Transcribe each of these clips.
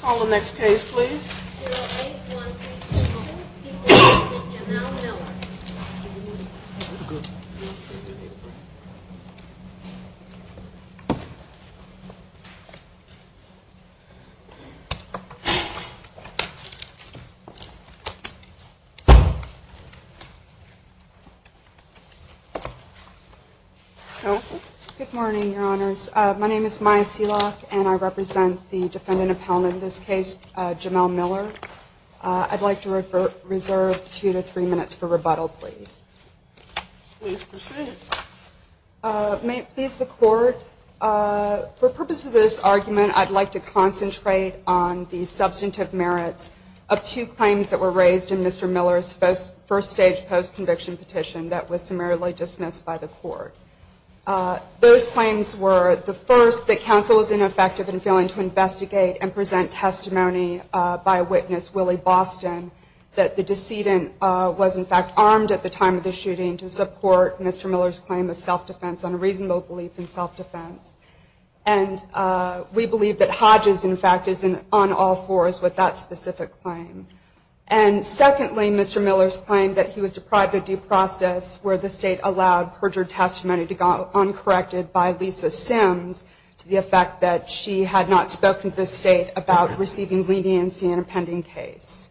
Call the next case please. Good morning your honors. My name is the defendant appellant in this case, Jamel Miller. I'd like to reserve two to three minutes for rebuttal please. Please proceed. May it please the court for purpose of this argument I'd like to concentrate on the substantive merits of two claims that were raised in Mr. Miller's first stage post-conviction petition that was summarily dismissed by the court. Those claims were the first that counsel was ineffective in failing to investigate and present testimony by witness Willie Boston that the decedent was in fact armed at the time of the shooting to support Mr. Miller's claim of self-defense on a reasonable belief in self-defense. We believe that Hodges in fact is on all fours with that specific claim. Secondly, Mr. Miller's claim that he was deprived of due process where the state allowed perjured testimony to go uncorrected by Lisa Sims to the effect that she had not spoken to the state about receiving leniency in a pending case.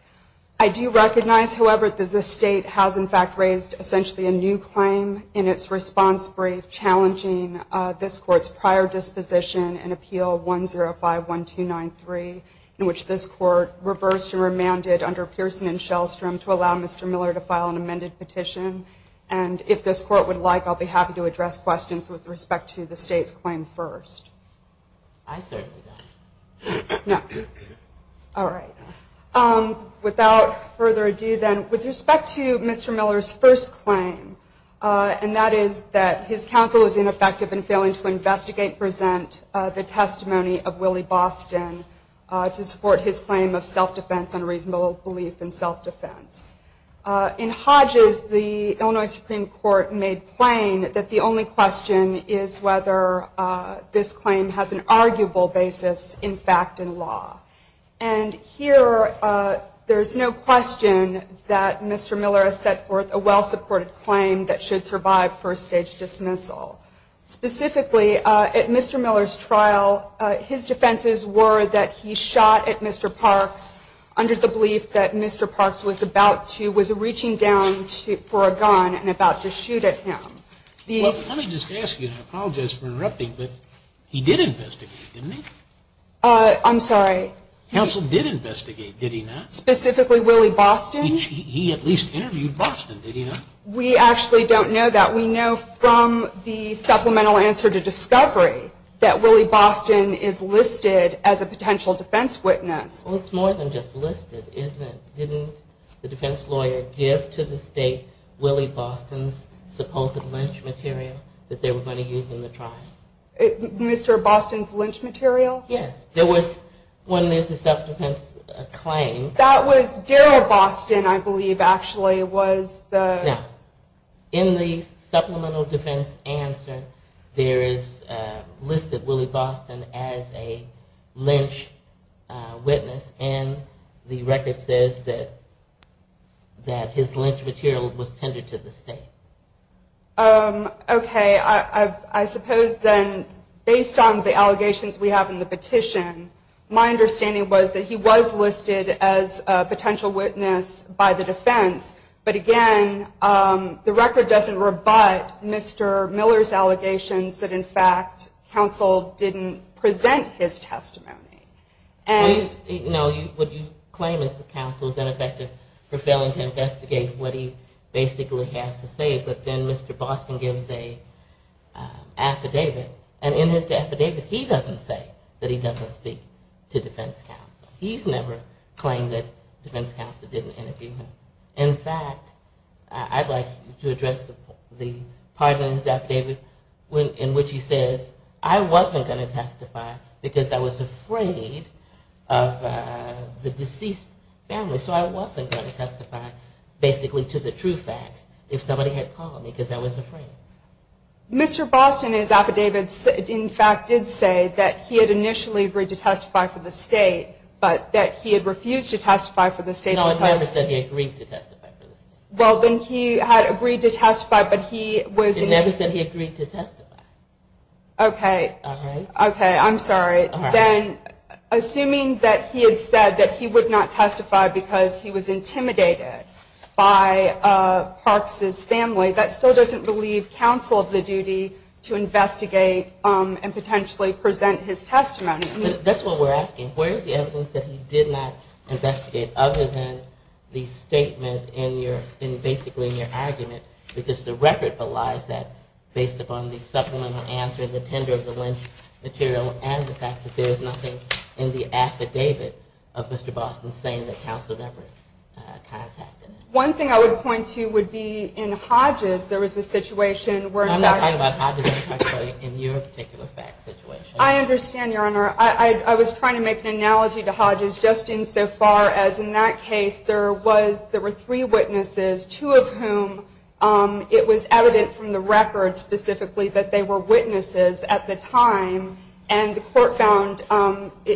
I do recognize however that the state has in fact raised essentially a new claim in its response brief challenging this court's prior disposition in Appeal 105-1293 in which this court reversed and remanded under Pearson and Shellstrom to allow Mr. Miller to file an amended petition and if this court would like I'll be the state's claim first. I certainly don't. No. All right. Without further ado then, with respect to Mr. Miller's first claim and that is that his counsel is ineffective in failing to investigate and present the testimony of Willie Boston to support his claim of self-defense on a reasonable belief in self-defense. In Hodges the Illinois Supreme Court made plain that the only question is whether this claim has an arguable basis in fact in law. And here there is no question that Mr. Miller has set forth a well-supported claim that should survive first stage dismissal. Specifically, at Mr. Miller's trial, his defenses were that he shot at Mr. Parks under the belief that Mr. Parks was about to, was reaching down for a gun and about to shoot at him. Well, let me just ask you, and I apologize for interrupting, but he did investigate, didn't he? I'm sorry? Counsel did investigate, did he not? Specifically, Willie Boston? He at least interviewed Boston, did he not? We actually don't know that. We know from the supplemental answer to discovery that Willie Boston is listed as a potential defense witness. Well, it's more than just listed, isn't it? Didn't the defense lawyer give to the state Willie Boston's supposed lynch material that they were going to use in the trial? Mr. Boston's lynch material? Yes. There was, when there's a self-defense claim That was Daryl Boston, I believe, actually, was Now, in the supplemental defense answer there is listed Willie Boston as a lynch witness, and the record says that his lynch material was tendered to the state. Okay, I suppose then based on the allegations we have in the petition, my understanding was that he was listed as a potential witness by the defense, but again, the record doesn't rebut Mr. Miller's allegations that in fact, counsel didn't present his testimony. What you claim as counsel is ineffective for failing to investigate what he basically has to say, but then Mr. Boston gives an affidavit, and in his affidavit, he doesn't say that he doesn't speak to defense counsel. He's never claimed that defense counsel didn't interview him. In fact, I'd like you to address the part in his affidavit in which he says, I wasn't going to testify because I was afraid of the deceased family, so I wasn't going to testify basically to the true facts if somebody had called me because I was afraid. Mr. Boston in his affidavit, in fact, did say that he had initially agreed to testify for the state, but that he had refused to testify for the state because No, it never said he agreed to testify for the state. It never said he agreed to testify. Okay, I'm sorry. Assuming that he had said that he would not testify because he was intimidated by Parks' family, that still doesn't believe counsel of the duty to investigate and potentially present his testimony. That's what we're asking. Where is the evidence that he did not investigate other than the statement in your argument, because the record belies that based upon the supplemental answer, the tender of the lynch material, and the fact that there is nothing in the affidavit of Mr. Boston saying that counsel never contacted him. One thing I would point to would be in Hodges, there was a situation where I'm not talking about Hodges, I'm talking about in your particular fact situation. I understand, Your Honor. I was trying to make an analogy to Hodges just insofar as in that case there were three witnesses, two of whom it was evident from the record specifically that they were witnesses at the time, and the court found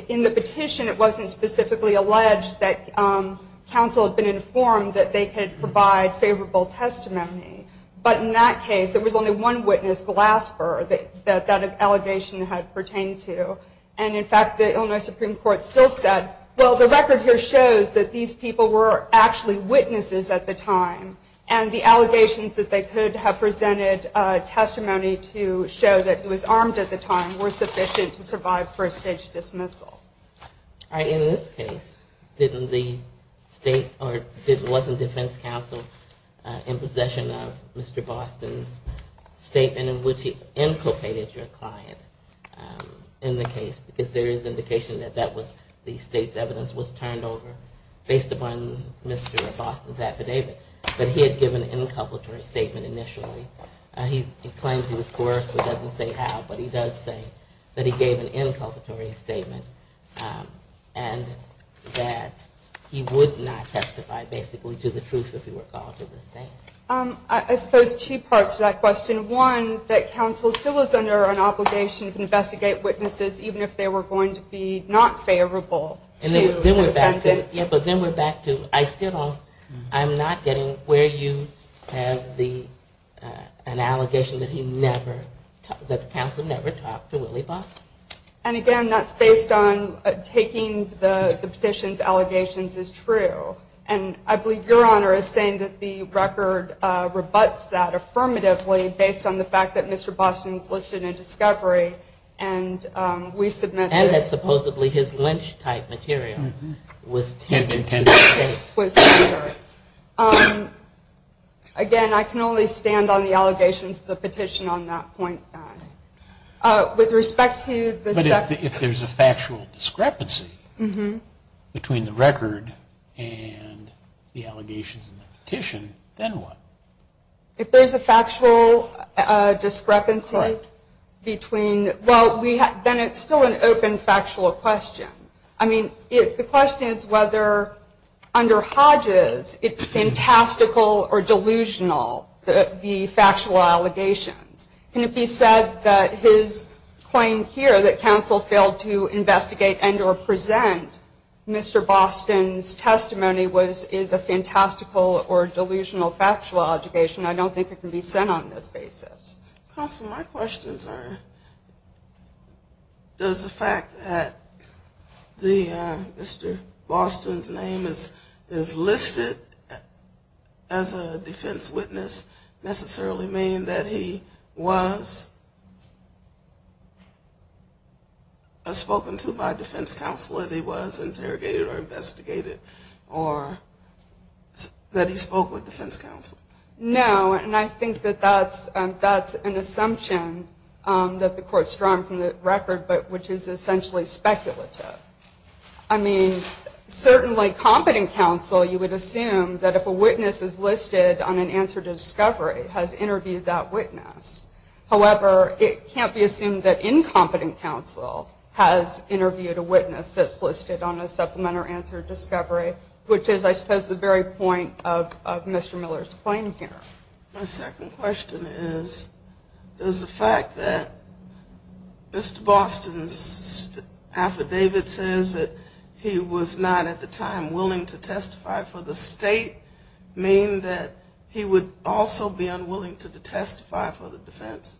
in the petition it wasn't specifically alleged that counsel had been informed that they could provide favorable testimony. But in that case, there was only one witness, Glasper, that that allegation had pertained to. And in fact, the Illinois Supreme Court still said well, the record here shows that these people were actually witnesses at the time, and the allegations that they could have presented testimony to show that he was armed at the time were sufficient to survive first-stage dismissal. In this case, didn't the state, or wasn't defense counsel in possession of Mr. Boston's statement in which he inculpated your client in the case? Because there is indication that the state's evidence was turned over based upon Mr. Boston's affidavit, that he had given an inculpatory statement initially. He claims he was coerced, but doesn't say how, but he does say that he gave an inculpatory statement and that he would not testify basically to the truth if he were called to the stand. I suppose two parts to that question. One, that counsel still was under an obligation to investigate witnesses even if they were going to be not favorable to the defendant. Yeah, but then we're back to, I'm not getting where you have an allegation that he never that counsel never talked to Willie Boston. And again, that's based on taking the petition's allegations as true. And I believe Your Honor is saying that the record rebuts that affirmatively based on the fact that Mr. Boston's listed in discovery, and we submit that. And that supposedly his lynch type material was taken. Again, I can only stand on the allegations of the petition on that point. But if there's a factual discrepancy between the record and the allegations in the petition, then what? If there's a factual discrepancy between, well, then it's still an open factual question. I mean, the question is whether under Hodges it's fantastical or delusional the factual allegations. Can it be said that his claim here that counsel failed to investigate and or present Mr. Boston's testimony is a fantastical or delusional factual allegation? I don't think it can be said on this basis. Counsel, my questions are does the fact that Mr. Boston's name is listed as a defense witness necessarily mean that he was spoken to by defense counsel, that he was interrogated or investigated, or that he spoke with defense counsel? No, and I think that that's an assumption that the court's drawn from the record, but which is essentially speculative. I mean, certainly competent counsel, you would assume that if a witness is listed on an answer to discovery, has interviewed that witness. However, it can't be assumed that incompetent counsel has interviewed a witness that's listed on a supplement or answer to discovery, which is I suppose the very point of Mr. Miller's claim here. My second question is, does the fact that Mr. Boston's affidavit says that he was not at the time willing to testify for the state mean that he would also be unwilling to testify for the defense?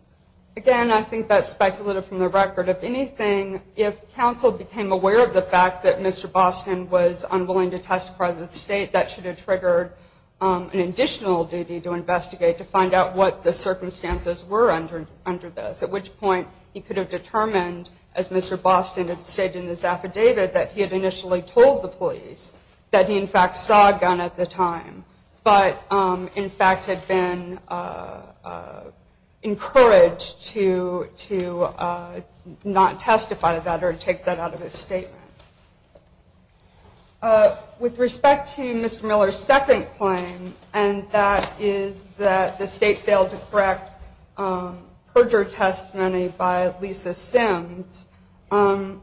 Again, I think that's speculative from the record. If anything, if counsel became aware of the fact that Mr. Boston was unwilling to testify for the state, that should have triggered an additional duty to investigate to find out what the circumstances were under this, at which point he could have determined as Mr. Boston had stated in his affidavit that he had initially told the police that he in fact saw a gun at the time, but in fact had been encouraged to not testify about it or take that out of his statement. With respect to Mr. Miller's second claim, and that is that the state failed to correct perjure testimony by Lisa Sims, the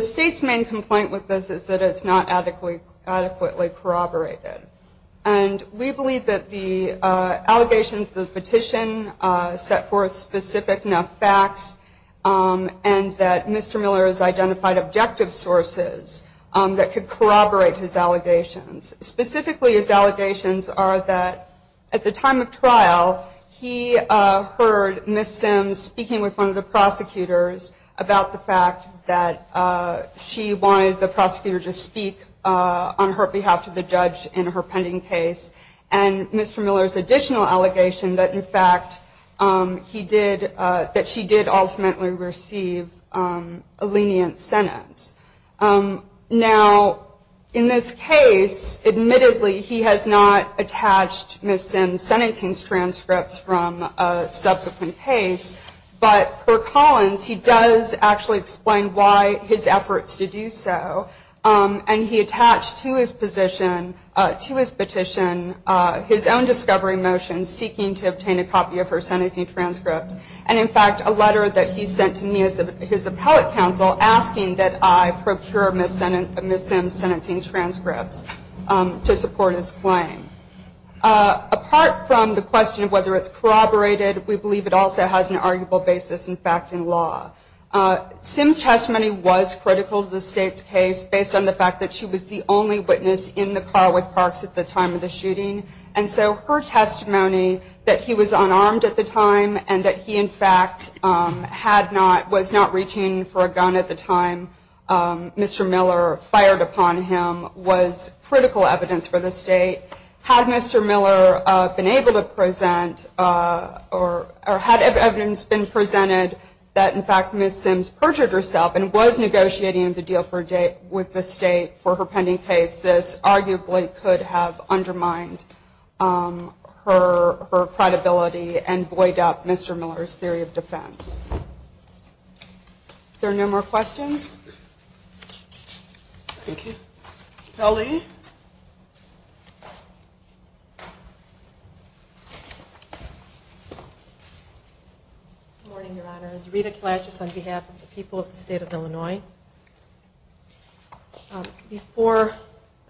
state's main complaint with this is that it's not adequately corroborated. We believe that the allegations of the petition set forth specific enough facts and that Mr. Miller has identified objective sources that could corroborate his allegations. Specifically, his allegations are that at the time of trial, he heard Miss Sims speaking with one of the prosecutors about the fact that she wanted the prosecutor to speak on her behalf to the judge in her pending case, and Mr. Miller's additional allegation that in fact he did, that she did ultimately receive a lenient sentence. Now, in this case, admittedly he has not attached Miss Sims' sentencing transcripts from a subsequent case, but for Collins, he does actually explain why his efforts to do so, and he attached to his petition his own discovery motion seeking to obtain a copy of her sentencing transcripts, and in fact a letter that he sent to me as his appellate counsel asking that I procure Miss Sims' sentencing transcripts to support his claim. Apart from the question of whether it's corroborated, we believe it also has an arguable basis in fact in law. Sims' testimony was critical to the state's case based on the fact that she was the only witness in the car with Parks at the time of the shooting, and so her testimony that he was in fact, was not reaching for a gun at the time Mr. Miller fired upon him was critical evidence for the state. Had Mr. Miller been able to present, or had evidence been presented that in fact Miss Sims perjured herself and was negotiating the deal with the state for her pending case, this arguably could have undermined her credibility and buoyed up Mr. Miller's theory of defense. If there are no more questions? Thank you. Kelly? Good morning, Your Honor. It's Rita Kalachis on behalf of the people of the state of Illinois. Before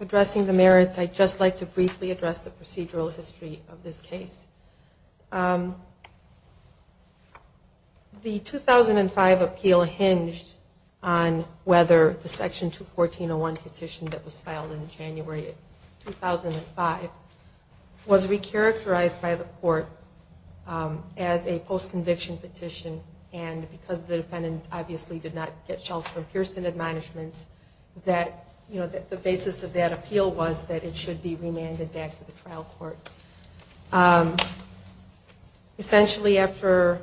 addressing the merits, I'd just like to briefly address the procedural history of this case. The 2005 appeal hinged on whether the section 214.01 petition that was filed in January 2005 was re-characterized by the court as a post-conviction petition, and because the defendant obviously did not get shelves from Pearson Administrations that the basis of that appeal was that it should be essentially after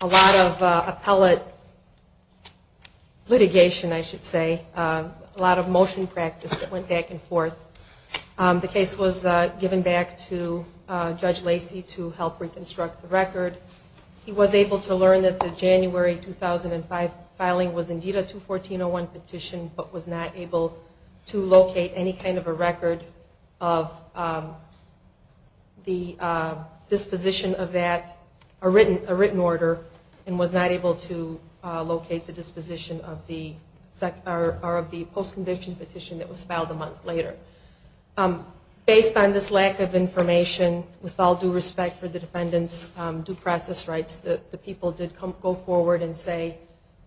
a lot of appellate litigation, I should say, a lot of motion practice that went back and forth. The case was given back to Judge Lacey to help reconstruct the record. He was able to learn that the January 2005 filing was indeed a 214.01 petition but was not able to locate any kind of a record of the disposition of that, a written order, and was not able to locate the disposition of the post-conviction petition that was filed a month later. Based on this lack of information, with all due respect for the defendant's due process rights, the people did go forward and say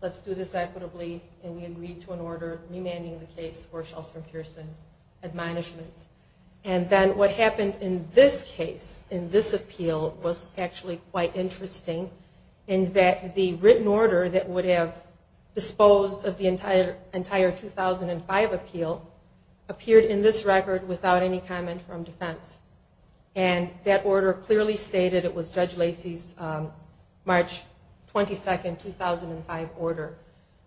let's do this equitably, and we agreed to an order remanding the case for 214.01 petitions. And then what happened in this case, in this appeal, was actually quite interesting in that the written order that would have disposed of the entire 2005 appeal appeared in this record without any comment from defense. And that order clearly stated it was Judge Lacey's March 22, 2005 order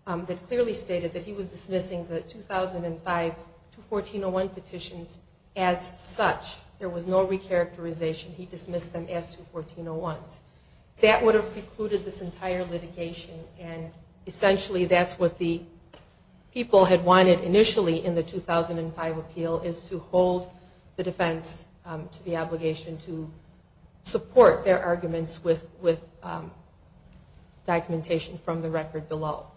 that clearly stated that he was dismissing the petitions as such. There was no recharacterization. He dismissed them as 214.01s. That would have precluded this entire litigation and essentially that's what the people had wanted initially in the 2005 appeal is to hold the defense to the obligation to support their arguments with documentation from the record below.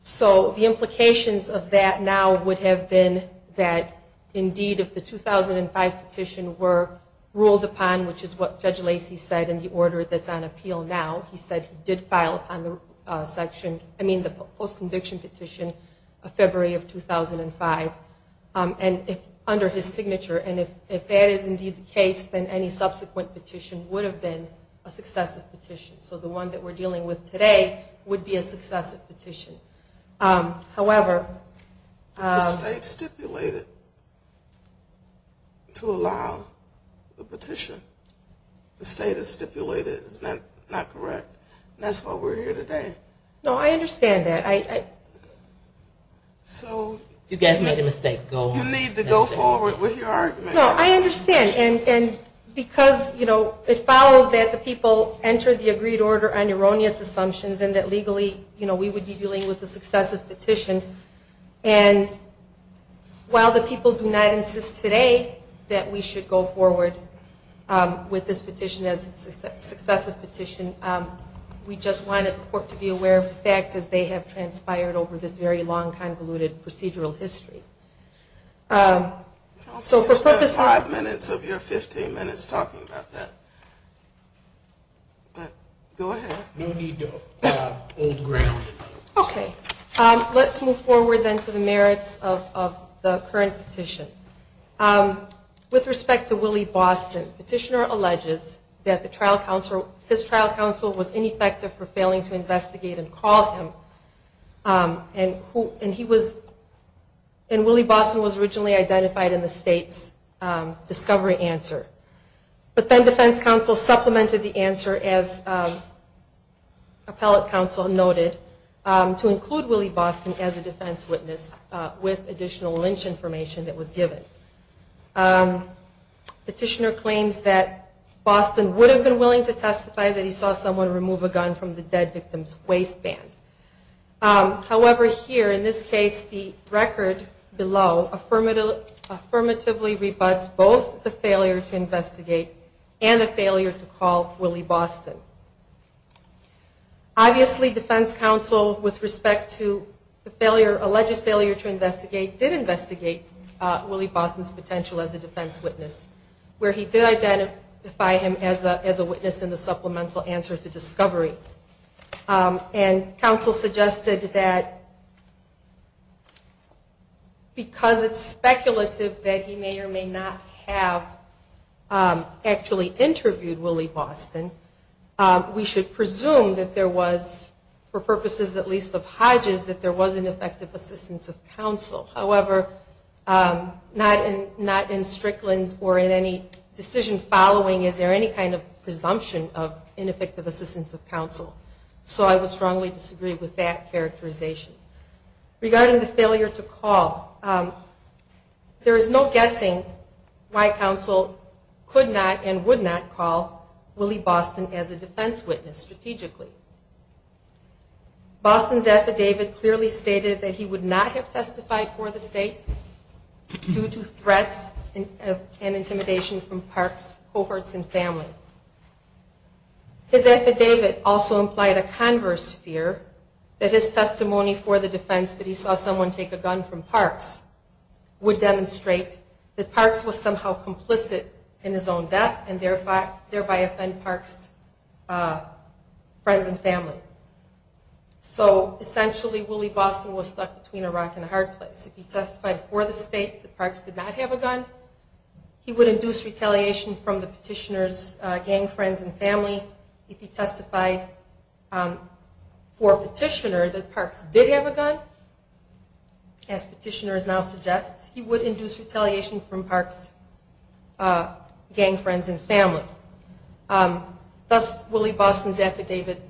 So the implications of that now would have been that indeed if the 2005 petition were ruled upon, which is what Judge Lacey said in the order that's on appeal now, he said he did file upon the post-conviction petition of February of 2005 under his signature, and if that is indeed the case, then any subsequent petition would have been a successive petition. So the one that we're dealing with today would be a successive petition. The state stipulated to allow the petition. The state has stipulated. Is that not correct? That's why we're here today. No, I understand that. You guys made a mistake. Go on. You need to go forward with your argument. No, I understand. And because it follows that the people entered the agreed order on erroneous assumptions and that legally we would be dealing with a successive petition and while the people do not insist today that we should go forward with this petition as a successive petition, we just wanted the court to be aware of the facts as they have transpired over this very long, convoluted procedural history. I'll spend five minutes of your 15 minutes talking about that. Go ahead. No need to hold ground. Okay. Let's move forward then to the merits of the current petition. With respect to Willie Boston, the petitioner alleges that his trial counsel was ineffective for failing to investigate and call him and Willie Boston was originally identified in the state's discovery answer. But then defense counsel supplemented the answer as appellate counsel noted to include Willie Boston as a defense witness with additional lynch information that was given. Petitioner claims that Boston would have been willing to testify that he saw someone remove a gun from the dead victim's waistband. However, here, in this case, the record below affirmatively rebuts both the failure to investigate and the failure to call Willie Boston. Obviously, defense counsel with respect to the alleged failure to investigate did investigate Willie Boston's potential as a defense witness where he did identify him as a witness in the supplemental answer to discovery. And counsel suggested that because it's speculative that he may or may not have actually interviewed Willie Boston, we should presume that there was, for purposes at least of Hodges, that there was ineffective assistance of counsel. However, not in Strickland or in any decision following is there any kind of presumption of ineffective assistance of counsel. So I would strongly disagree with that characterization. Regarding the failure to call, there is no guessing why counsel could not and would not call Willie Boston as a defense witness strategically. Boston's affidavit clearly stated that he would not have testified for the state due to threats and intimidation from parks, cohorts, and family. His affidavit also implied a converse fear that his decision to let someone take a gun from parks would demonstrate that parks was somehow complicit in his own death and thereby offend parks' friends and family. So essentially, Willie Boston was stuck between a rock and a hard place. If he testified for the state that parks did not have a gun, he would induce retaliation from the petitioner's gang friends and family. If he testified for a petitioner that as petitioners now suggest, he would induce retaliation from parks' gang friends and family. Thus, Willie Boston's affidavit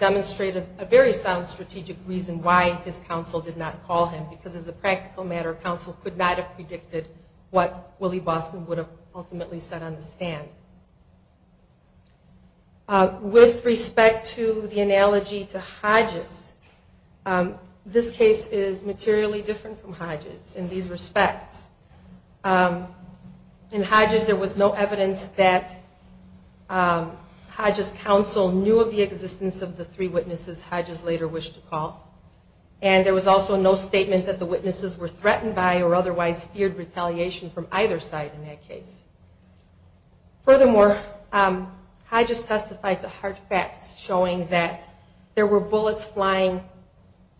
demonstrated a very sound strategic reason why his counsel did not call him because as a practical matter, counsel could not have predicted what Willie Boston would have ultimately said on the stand. With respect to the analogy to Hodges, this case is materially different from Hodges in these respects. In Hodges, there was no evidence that Hodges' counsel knew of the existence of the three witnesses Hodges later wished to call, and there was also no statement that the witnesses were threatened by or otherwise feared retaliation from either side in that case. Furthermore, Hodges testified to hard facts showing that there were bullets flying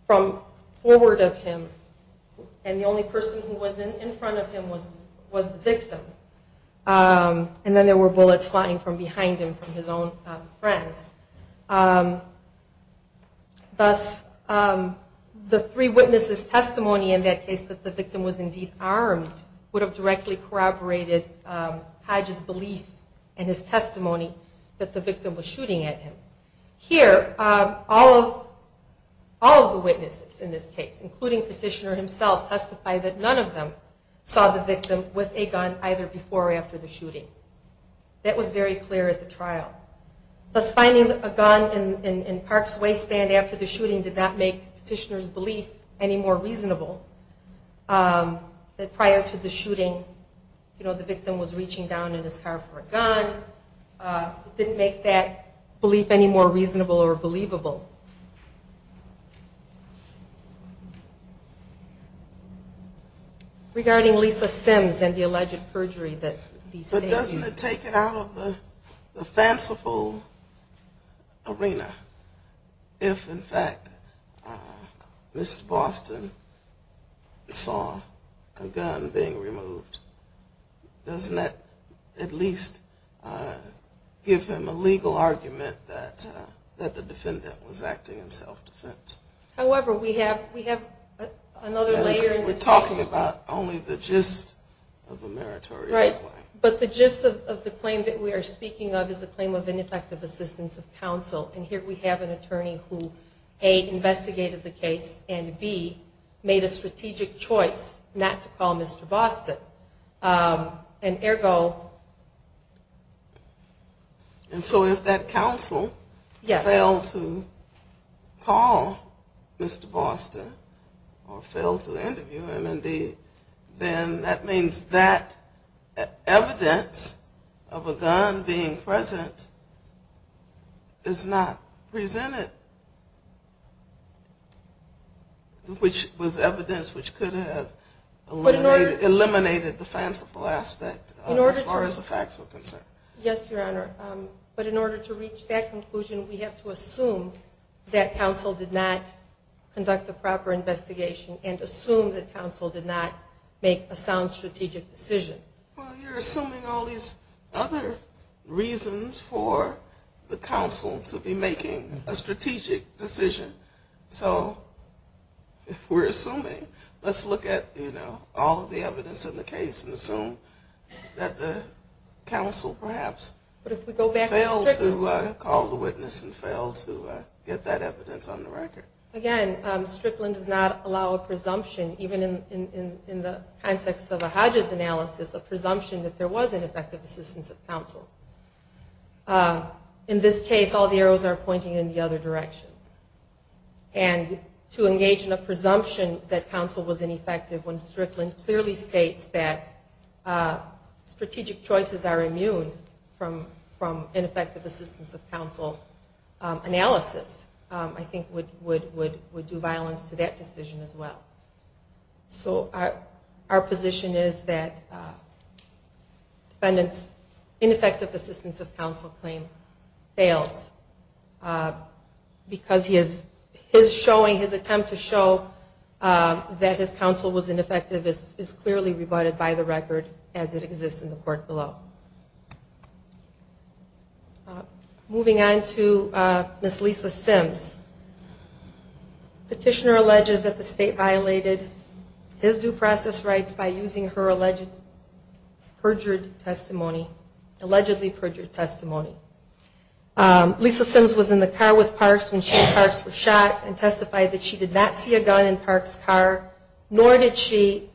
from forward of him, and the only person who was in front of him was the victim. And then there were bullets flying from behind him from his own friends. Thus, the three witnesses' testimony in that case that the victim was indeed armed would have directly corroborated Hodges' belief in his testimony that the victim was shooting at him. Here, all of the witnesses in this case, including Petitioner himself, testify that none of them saw the victim with a gun either before or after the shooting. That was very clear at the trial. Thus, finding a gun in Park's waistband after the shooting did not make Petitioner's belief any more reasonable that prior to the shooting the victim was reaching down in his car for a gun. It didn't make that belief any more reasonable or believable. Regarding Lisa Sims and the alleged perjury that these statements... But doesn't it take it out of the fanciful arena if in fact Mr. Boston saw a gun being removed? Doesn't that at least give him a legal argument that the defendant was acting in self-defense? However, we have another layer... Because we're talking about only the gist of a meritorious claim. Right. But the gist of the claim that we are speaking of is the claim of ineffective assistance of counsel. And here we have an attorney who, A, investigated the case, and B, made a strategic choice not to call Mr. Boston. And ergo... And so if that counsel failed to call Mr. Boston or failed to interview him, then that means that evidence of a gun being present is not presented. Which was evidence which could have eliminated the fanciful aspect as far as the facts were concerned. Yes, Your Honor. But in order to reach that conclusion, we have to assume that counsel did not conduct a proper investigation and assume that counsel did not make a sound strategic decision. Well, you're assuming all these other reasons for the counsel to be making a strategic decision. So if we're assuming, let's look at all of the evidence in the case and assume that the counsel perhaps failed to call the witness and failed to get that evidence on the record. Again, Strickland does not allow a presumption, even in the context of a Hodges analysis, a presumption that there was ineffective assistance of counsel. In this case, all the arrows are pointing in the other direction. And to engage in a presumption that counsel was ineffective when Strickland clearly states that strategic choices are immune from ineffective assistance of counsel analysis, I think would do violence to that decision as well. So our position is that defendant's ineffective assistance of counsel claim fails because his showing, his attempt to show that his counsel was ineffective is clearly rebutted by the record as it exists in the court below. Moving on to Ms. Lisa Sims. Petitioner alleges that the state violated his due process rights by using her allegedly perjured testimony. Allegedly perjured testimony. Lisa Sims was in the car with Parks when she and Parks were shot and testified that she did not see a gun in Parks' car, nor did she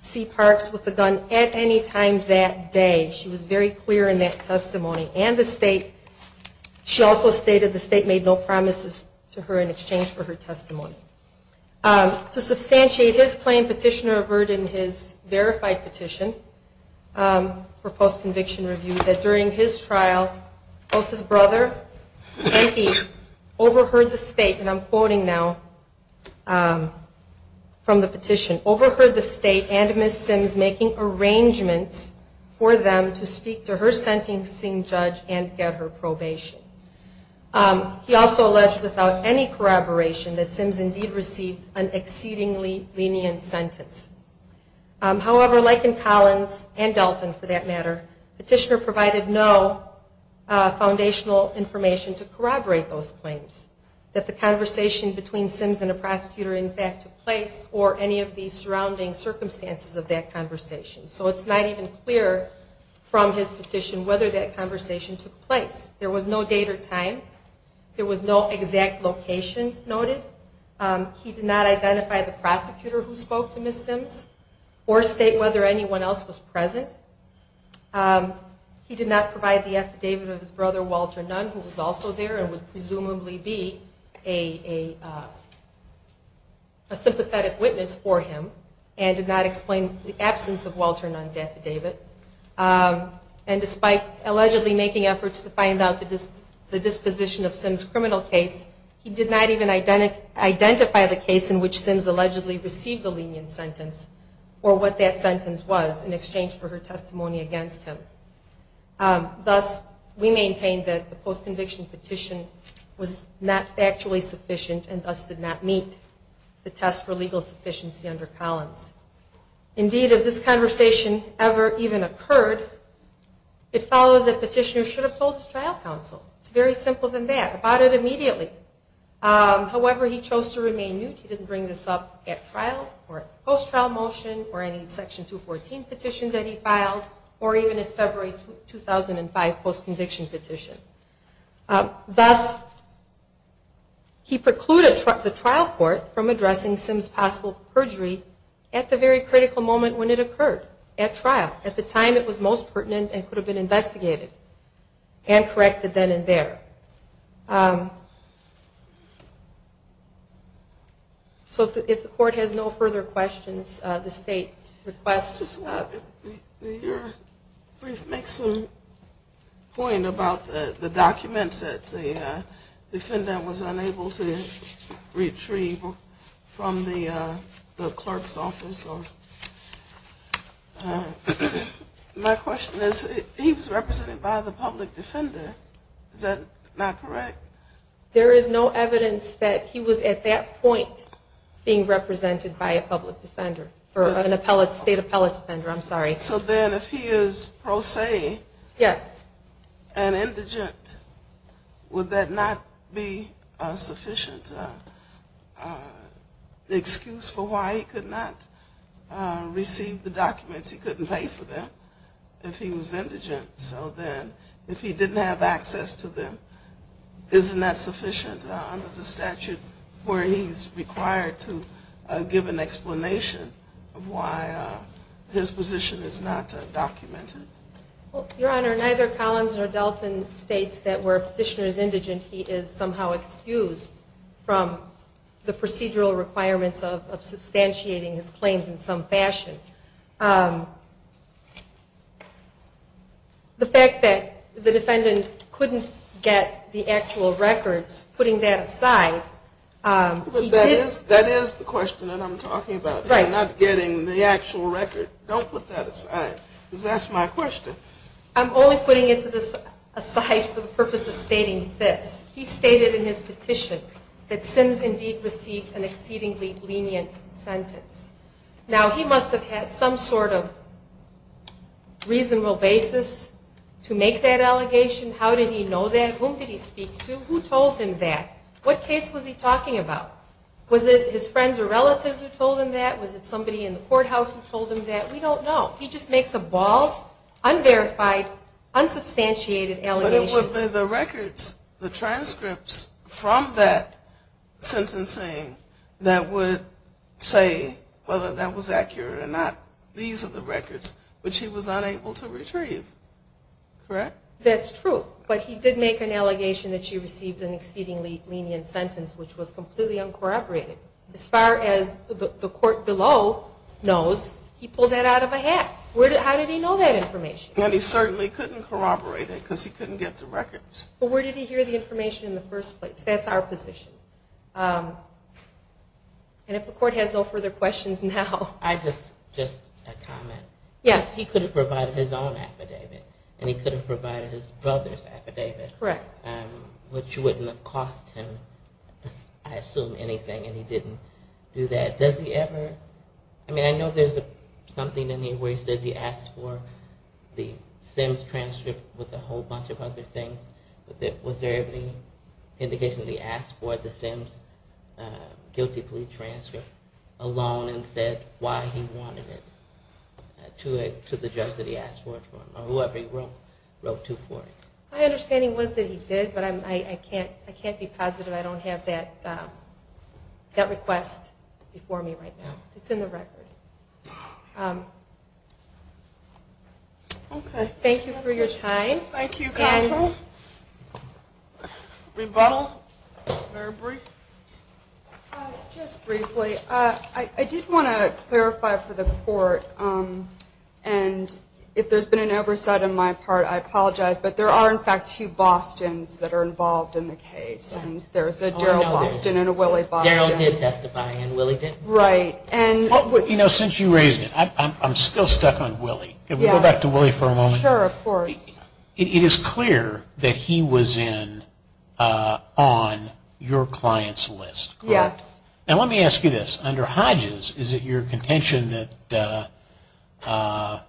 see Parks with a gun at any time that day. She was very clear in that testimony. And the state, she also stated the state made no promises to her in exchange for her testimony. To substantiate his claim, Petitioner averted his verified petition for post-conviction review that during his trial, both his brother and he overheard the state and I'm quoting now from the petition, overheard the state and Ms. Sims making arrangements for them to speak to her sentencing judge and get her probation. He also alleged without any corroboration that Sims indeed received an exceedingly lenient sentence. However, like in Collins and Delton for that matter, Petitioner provided no foundational information to corroborate those claims. That the conversation between Sims and a prosecutor in fact took place or any of the surrounding circumstances of that conversation. So it's not even clear from his petition whether that conversation took place. There was no date or time. There was no exact location noted. He did not identify the prosecutor who sentenced Sims or state whether anyone else was present. He did not provide the affidavit of his brother, Walter Nunn, who was also there and would presumably be a sympathetic witness for him and did not explain the absence of Walter Nunn's affidavit. And despite allegedly making efforts to find out the disposition of Sims' criminal case, he did not even identify the case in which Sims allegedly received a lenient sentence or what that sentence was in exchange for her testimony against him. Thus, we maintain that the post-conviction petition was not factually sufficient and thus did not meet the test for legal sufficiency under Collins. Indeed, if this conversation ever even occurred, it follows that Petitioner should have told his trial counsel. It's very simple than that. About it immediately. However, he chose to remain mute. He didn't bring this up at trial or post-trial motion or any Section 214 petition that he filed or even his February 2005 post-conviction petition. Thus, he precluded the trial court from addressing Sims' possible perjury at the very critical moment when it occurred, at trial, at the time it was most pertinent and could have been investigated and corrected then and there. So, if the court has no further questions, the State requests... Can you make some point about the documents that the defendant was unable to retrieve from the clerk's office? My question is, he was represented by the public defender. Is that not correct? There is no evidence that he was at that point being represented by a public defender. State appellate defender, I'm sorry. So then, if he is pro se and indigent, would that not be a sufficient excuse for why he could not receive the documents? He couldn't pay for them if he was indigent. So then, if he didn't have access to them, isn't that sufficient under the statute where he's required to give an explanation of why his position is not documented? Your Honor, neither Collins or Dalton states that where a petitioner is indigent, he is somehow excused from the procedural requirements of substantiating his claims in some fashion. The fact that the defendant couldn't get the actual records, putting that aside... But that is the question that I'm talking about. If you're not getting the actual record, don't put that aside. Because that's my question. I'm only putting it aside for the purpose of stating this. He stated in his petition that Sims indeed received an exceedingly lenient sentence. Now, he must have had some sort of reasonable basis to make that allegation. How did he know that? Whom did he speak to? Who told him that? What case was he talking about? Was it his friends or relatives who told him that? Was it somebody in the courthouse who told him that? We don't know. He just makes a bald, unverified, unsubstantiated allegation. But it would be the records, the transcripts from that sentencing that would say whether that was accurate or not. These are the records which he was unable to retrieve. Correct? That's true. But he did make an allegation that she received an exceedingly lenient sentence which was completely uncorroborated. As far as the court below knows, he pulled that out of a hat. How did he know that information? He certainly couldn't corroborate it because he couldn't get the records. But where did he hear the information in the first place? That's our position. And if the court has no further questions now... I just have a comment. Yes. He could have provided his own affidavit and he could have provided his brother's affidavit. Correct. Which wouldn't have cost him, I assume, anything and he didn't do that. Does he ever... I mean I know there's something in here where he says he asked for the Sims transcript with a whole bunch of other things. Was there any indication that he asked for the Sims guilty plea transcript alone and said why he wanted it to the judge that he asked for it from or whoever he wrote to for it? My understanding was that he did, but I can't be positive. I don't have that request before me right now. It's in the record. Okay. Thank you for your time. Thank you, Counsel. Rebuttal? Mary Bree? Just briefly, I did want to clarify for the court and if there's been an oversight on my part, I apologize, but there are in fact two Bostons that are involved in the case. There's a Daryl Boston and a Willie Boston. Daryl did testify and Willie didn't. Right. You know, since you raised it, I'm still stuck on Willie. Can we go back to Willie for a moment? Sure, of course. It is clear that he was in on your client's list, correct? Yes. Now let me ask you this. Under Hodges, is it your contention that our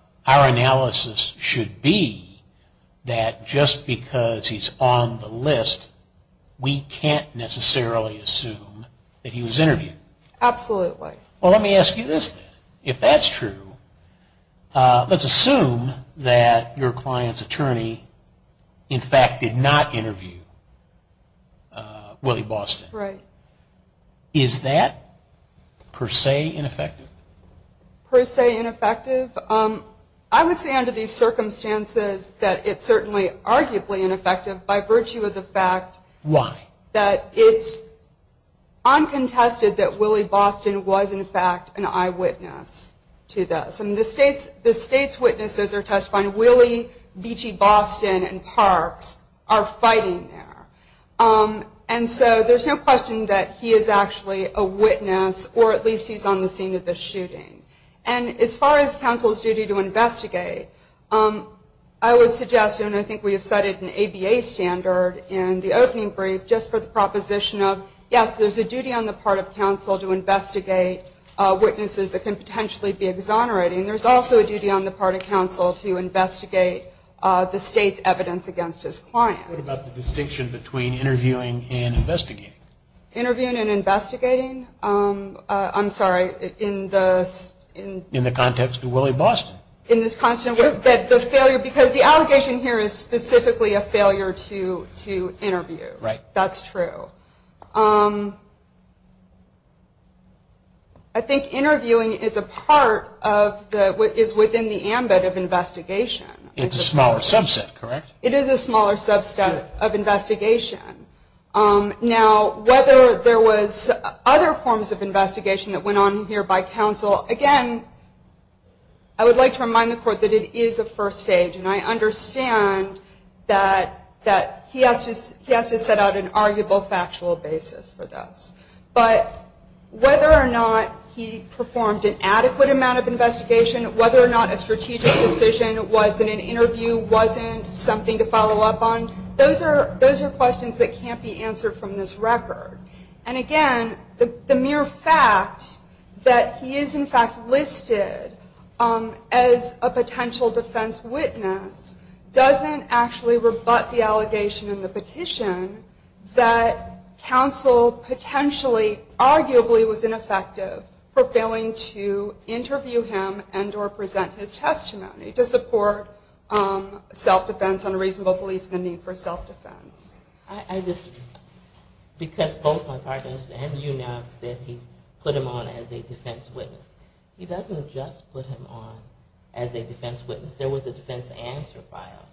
analysis should be that just because he's on the list, we can't necessarily assume that he was interviewed? Absolutely. Well, let me ask you this then. If that's true, let's assume that your client's attorney in fact did not interview Willie Boston. Right. Is that per se ineffective? Per se ineffective? I would say under these circumstances that it's certainly arguably ineffective by virtue of the fact that it's I'm contested that Willie Boston was in fact an eyewitness to this. And the state's witnesses are testifying. Willie Beachy Boston and Parks are fighting there. And so there's no question that he is actually a witness, or at least he's on the scene of the shooting. And as far as counsel's duty to investigate, I would suggest, and I think we have cited an ABA standard in the opening brief, just for the proposition of yes, there's a duty on the part of counsel to investigate witnesses that can potentially be exonerating. There's also a duty on the part of counsel to investigate the state's evidence against his client. What about the distinction between interviewing and investigating? Interviewing and investigating? I'm sorry, in the... In the context of Willie Boston? In this context, the failure, because the allegation here is specifically a failure to interview. Right. That's true. I think interviewing is a part of the, is within the ambit of investigation. It's a smaller subset, correct? It is a smaller subset of investigation. Now, whether there was other forms of investigation that went on here by counsel, again, I would like to remind the court that it is a first stage, and I understand that he has to set out an arguable factual basis for this. But whether or not he performed an adequate amount of investigation, whether or not a strategic decision was in an interview, wasn't something to follow up on, those are questions that can't be answered from this record. And again, the mere fact that he is in fact listed as a potential defense witness doesn't actually rebut the allegation in the petition that counsel potentially, arguably was ineffective for failing to interview him and or present his testimony to support self-defense on a reasonable belief in the need for self-defense. I just, because both my partners and you now have said he put him on as a defense witness. He doesn't just put him on as a defense witness. There was a defense answer file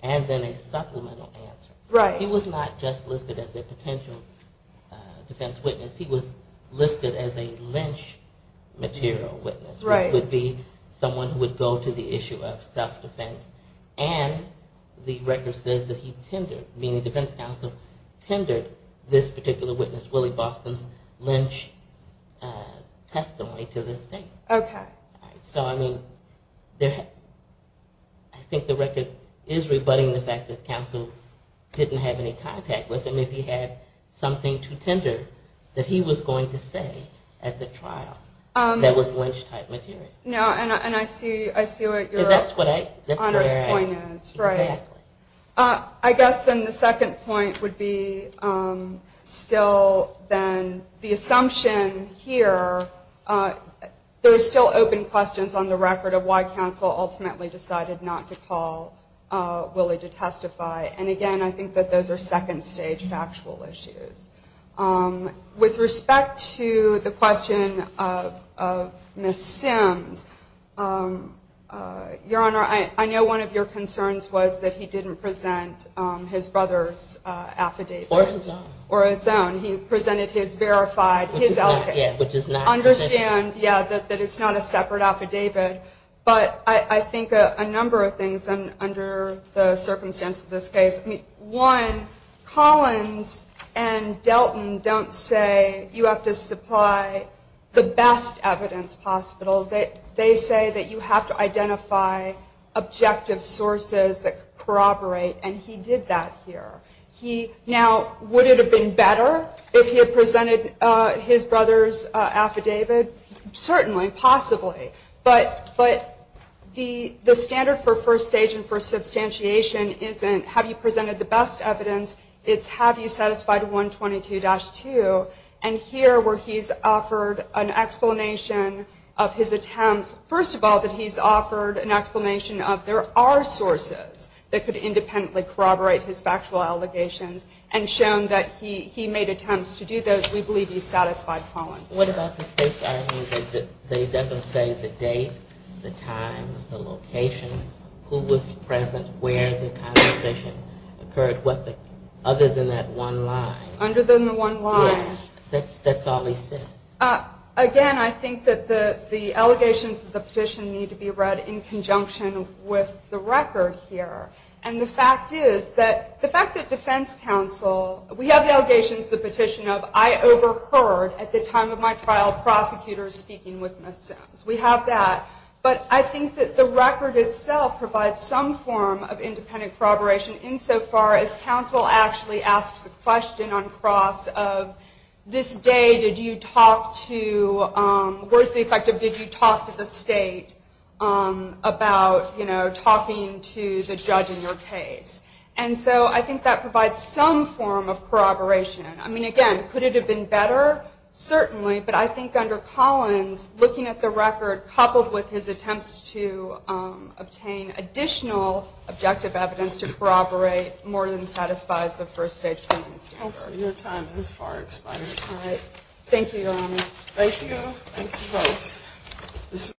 and then a supplemental answer. He was not just listed as a potential defense witness, he was listed as a lynch material witness, which would be someone who would go to the issue of self-defense and the record says that he tendered, meaning defense counsel tendered this particular witness, Willie Boston's lynch testimony to this day. So I mean, I think the record is rebutting the fact that counsel didn't have any contact with him if he had something to tender that he was going to say at the trial that was lynch type material. I guess then the second point would be still then the assumption here, there are still open questions on the record of why counsel ultimately decided not to call Willie to testify. And again, I think that those are second stage factual issues. With respect to the question of Ms. Sims, Your Honor, I know one of your concerns was that he didn't present his brother's affidavit. Or his own. Or his own. He presented his verified, his alibi. Which is not a separate affidavit. But I think a number of things under the circumstance of this case. One, Collins and Delton don't say you have to supply the best evidence possible. They say that you have to identify objective sources that corroborate. And he did that here. Now, would it have been better if he had presented his brother's affidavit? Certainly. Possibly. But the standard for first stage and for substantiation isn't have you presented the best evidence. It's have you satisfied 122-2. And here where he's offered an explanation of his attempts. First of all, that he's offered an explanation of there are sources that could independently corroborate his factual allegations. And shown that he made attempts to do those. We believe he satisfied Collins. What about the state's argument that they didn't say the date, the time, the location, who was present, where the conversation occurred, other than that one line. Other than the one line. Yes. That's all he said. Again, I think that the allegations of the petition need to be read in conjunction with the record here. And the fact is, the fact that defense counsel, we have the allegations the petition of, I overheard at the time of my trial prosecutors speaking with Ms. Sims. We have that. But I think that the record itself provides some form of independent corroboration insofar as counsel actually asks the question on cross of this day did you talk to, where's the effect of did you talk to the state about, you know, talking to the judge in your case. And so I think that provides some form of corroboration. I mean, again, could it have been better? Certainly. But I think under Collins, looking at the record, coupled with his attempts to obtain additional objective evidence to corroborate more than satisfies the first stage findings. Your time has far expired. Thank you, Your Honor. Thank you. Thank you both.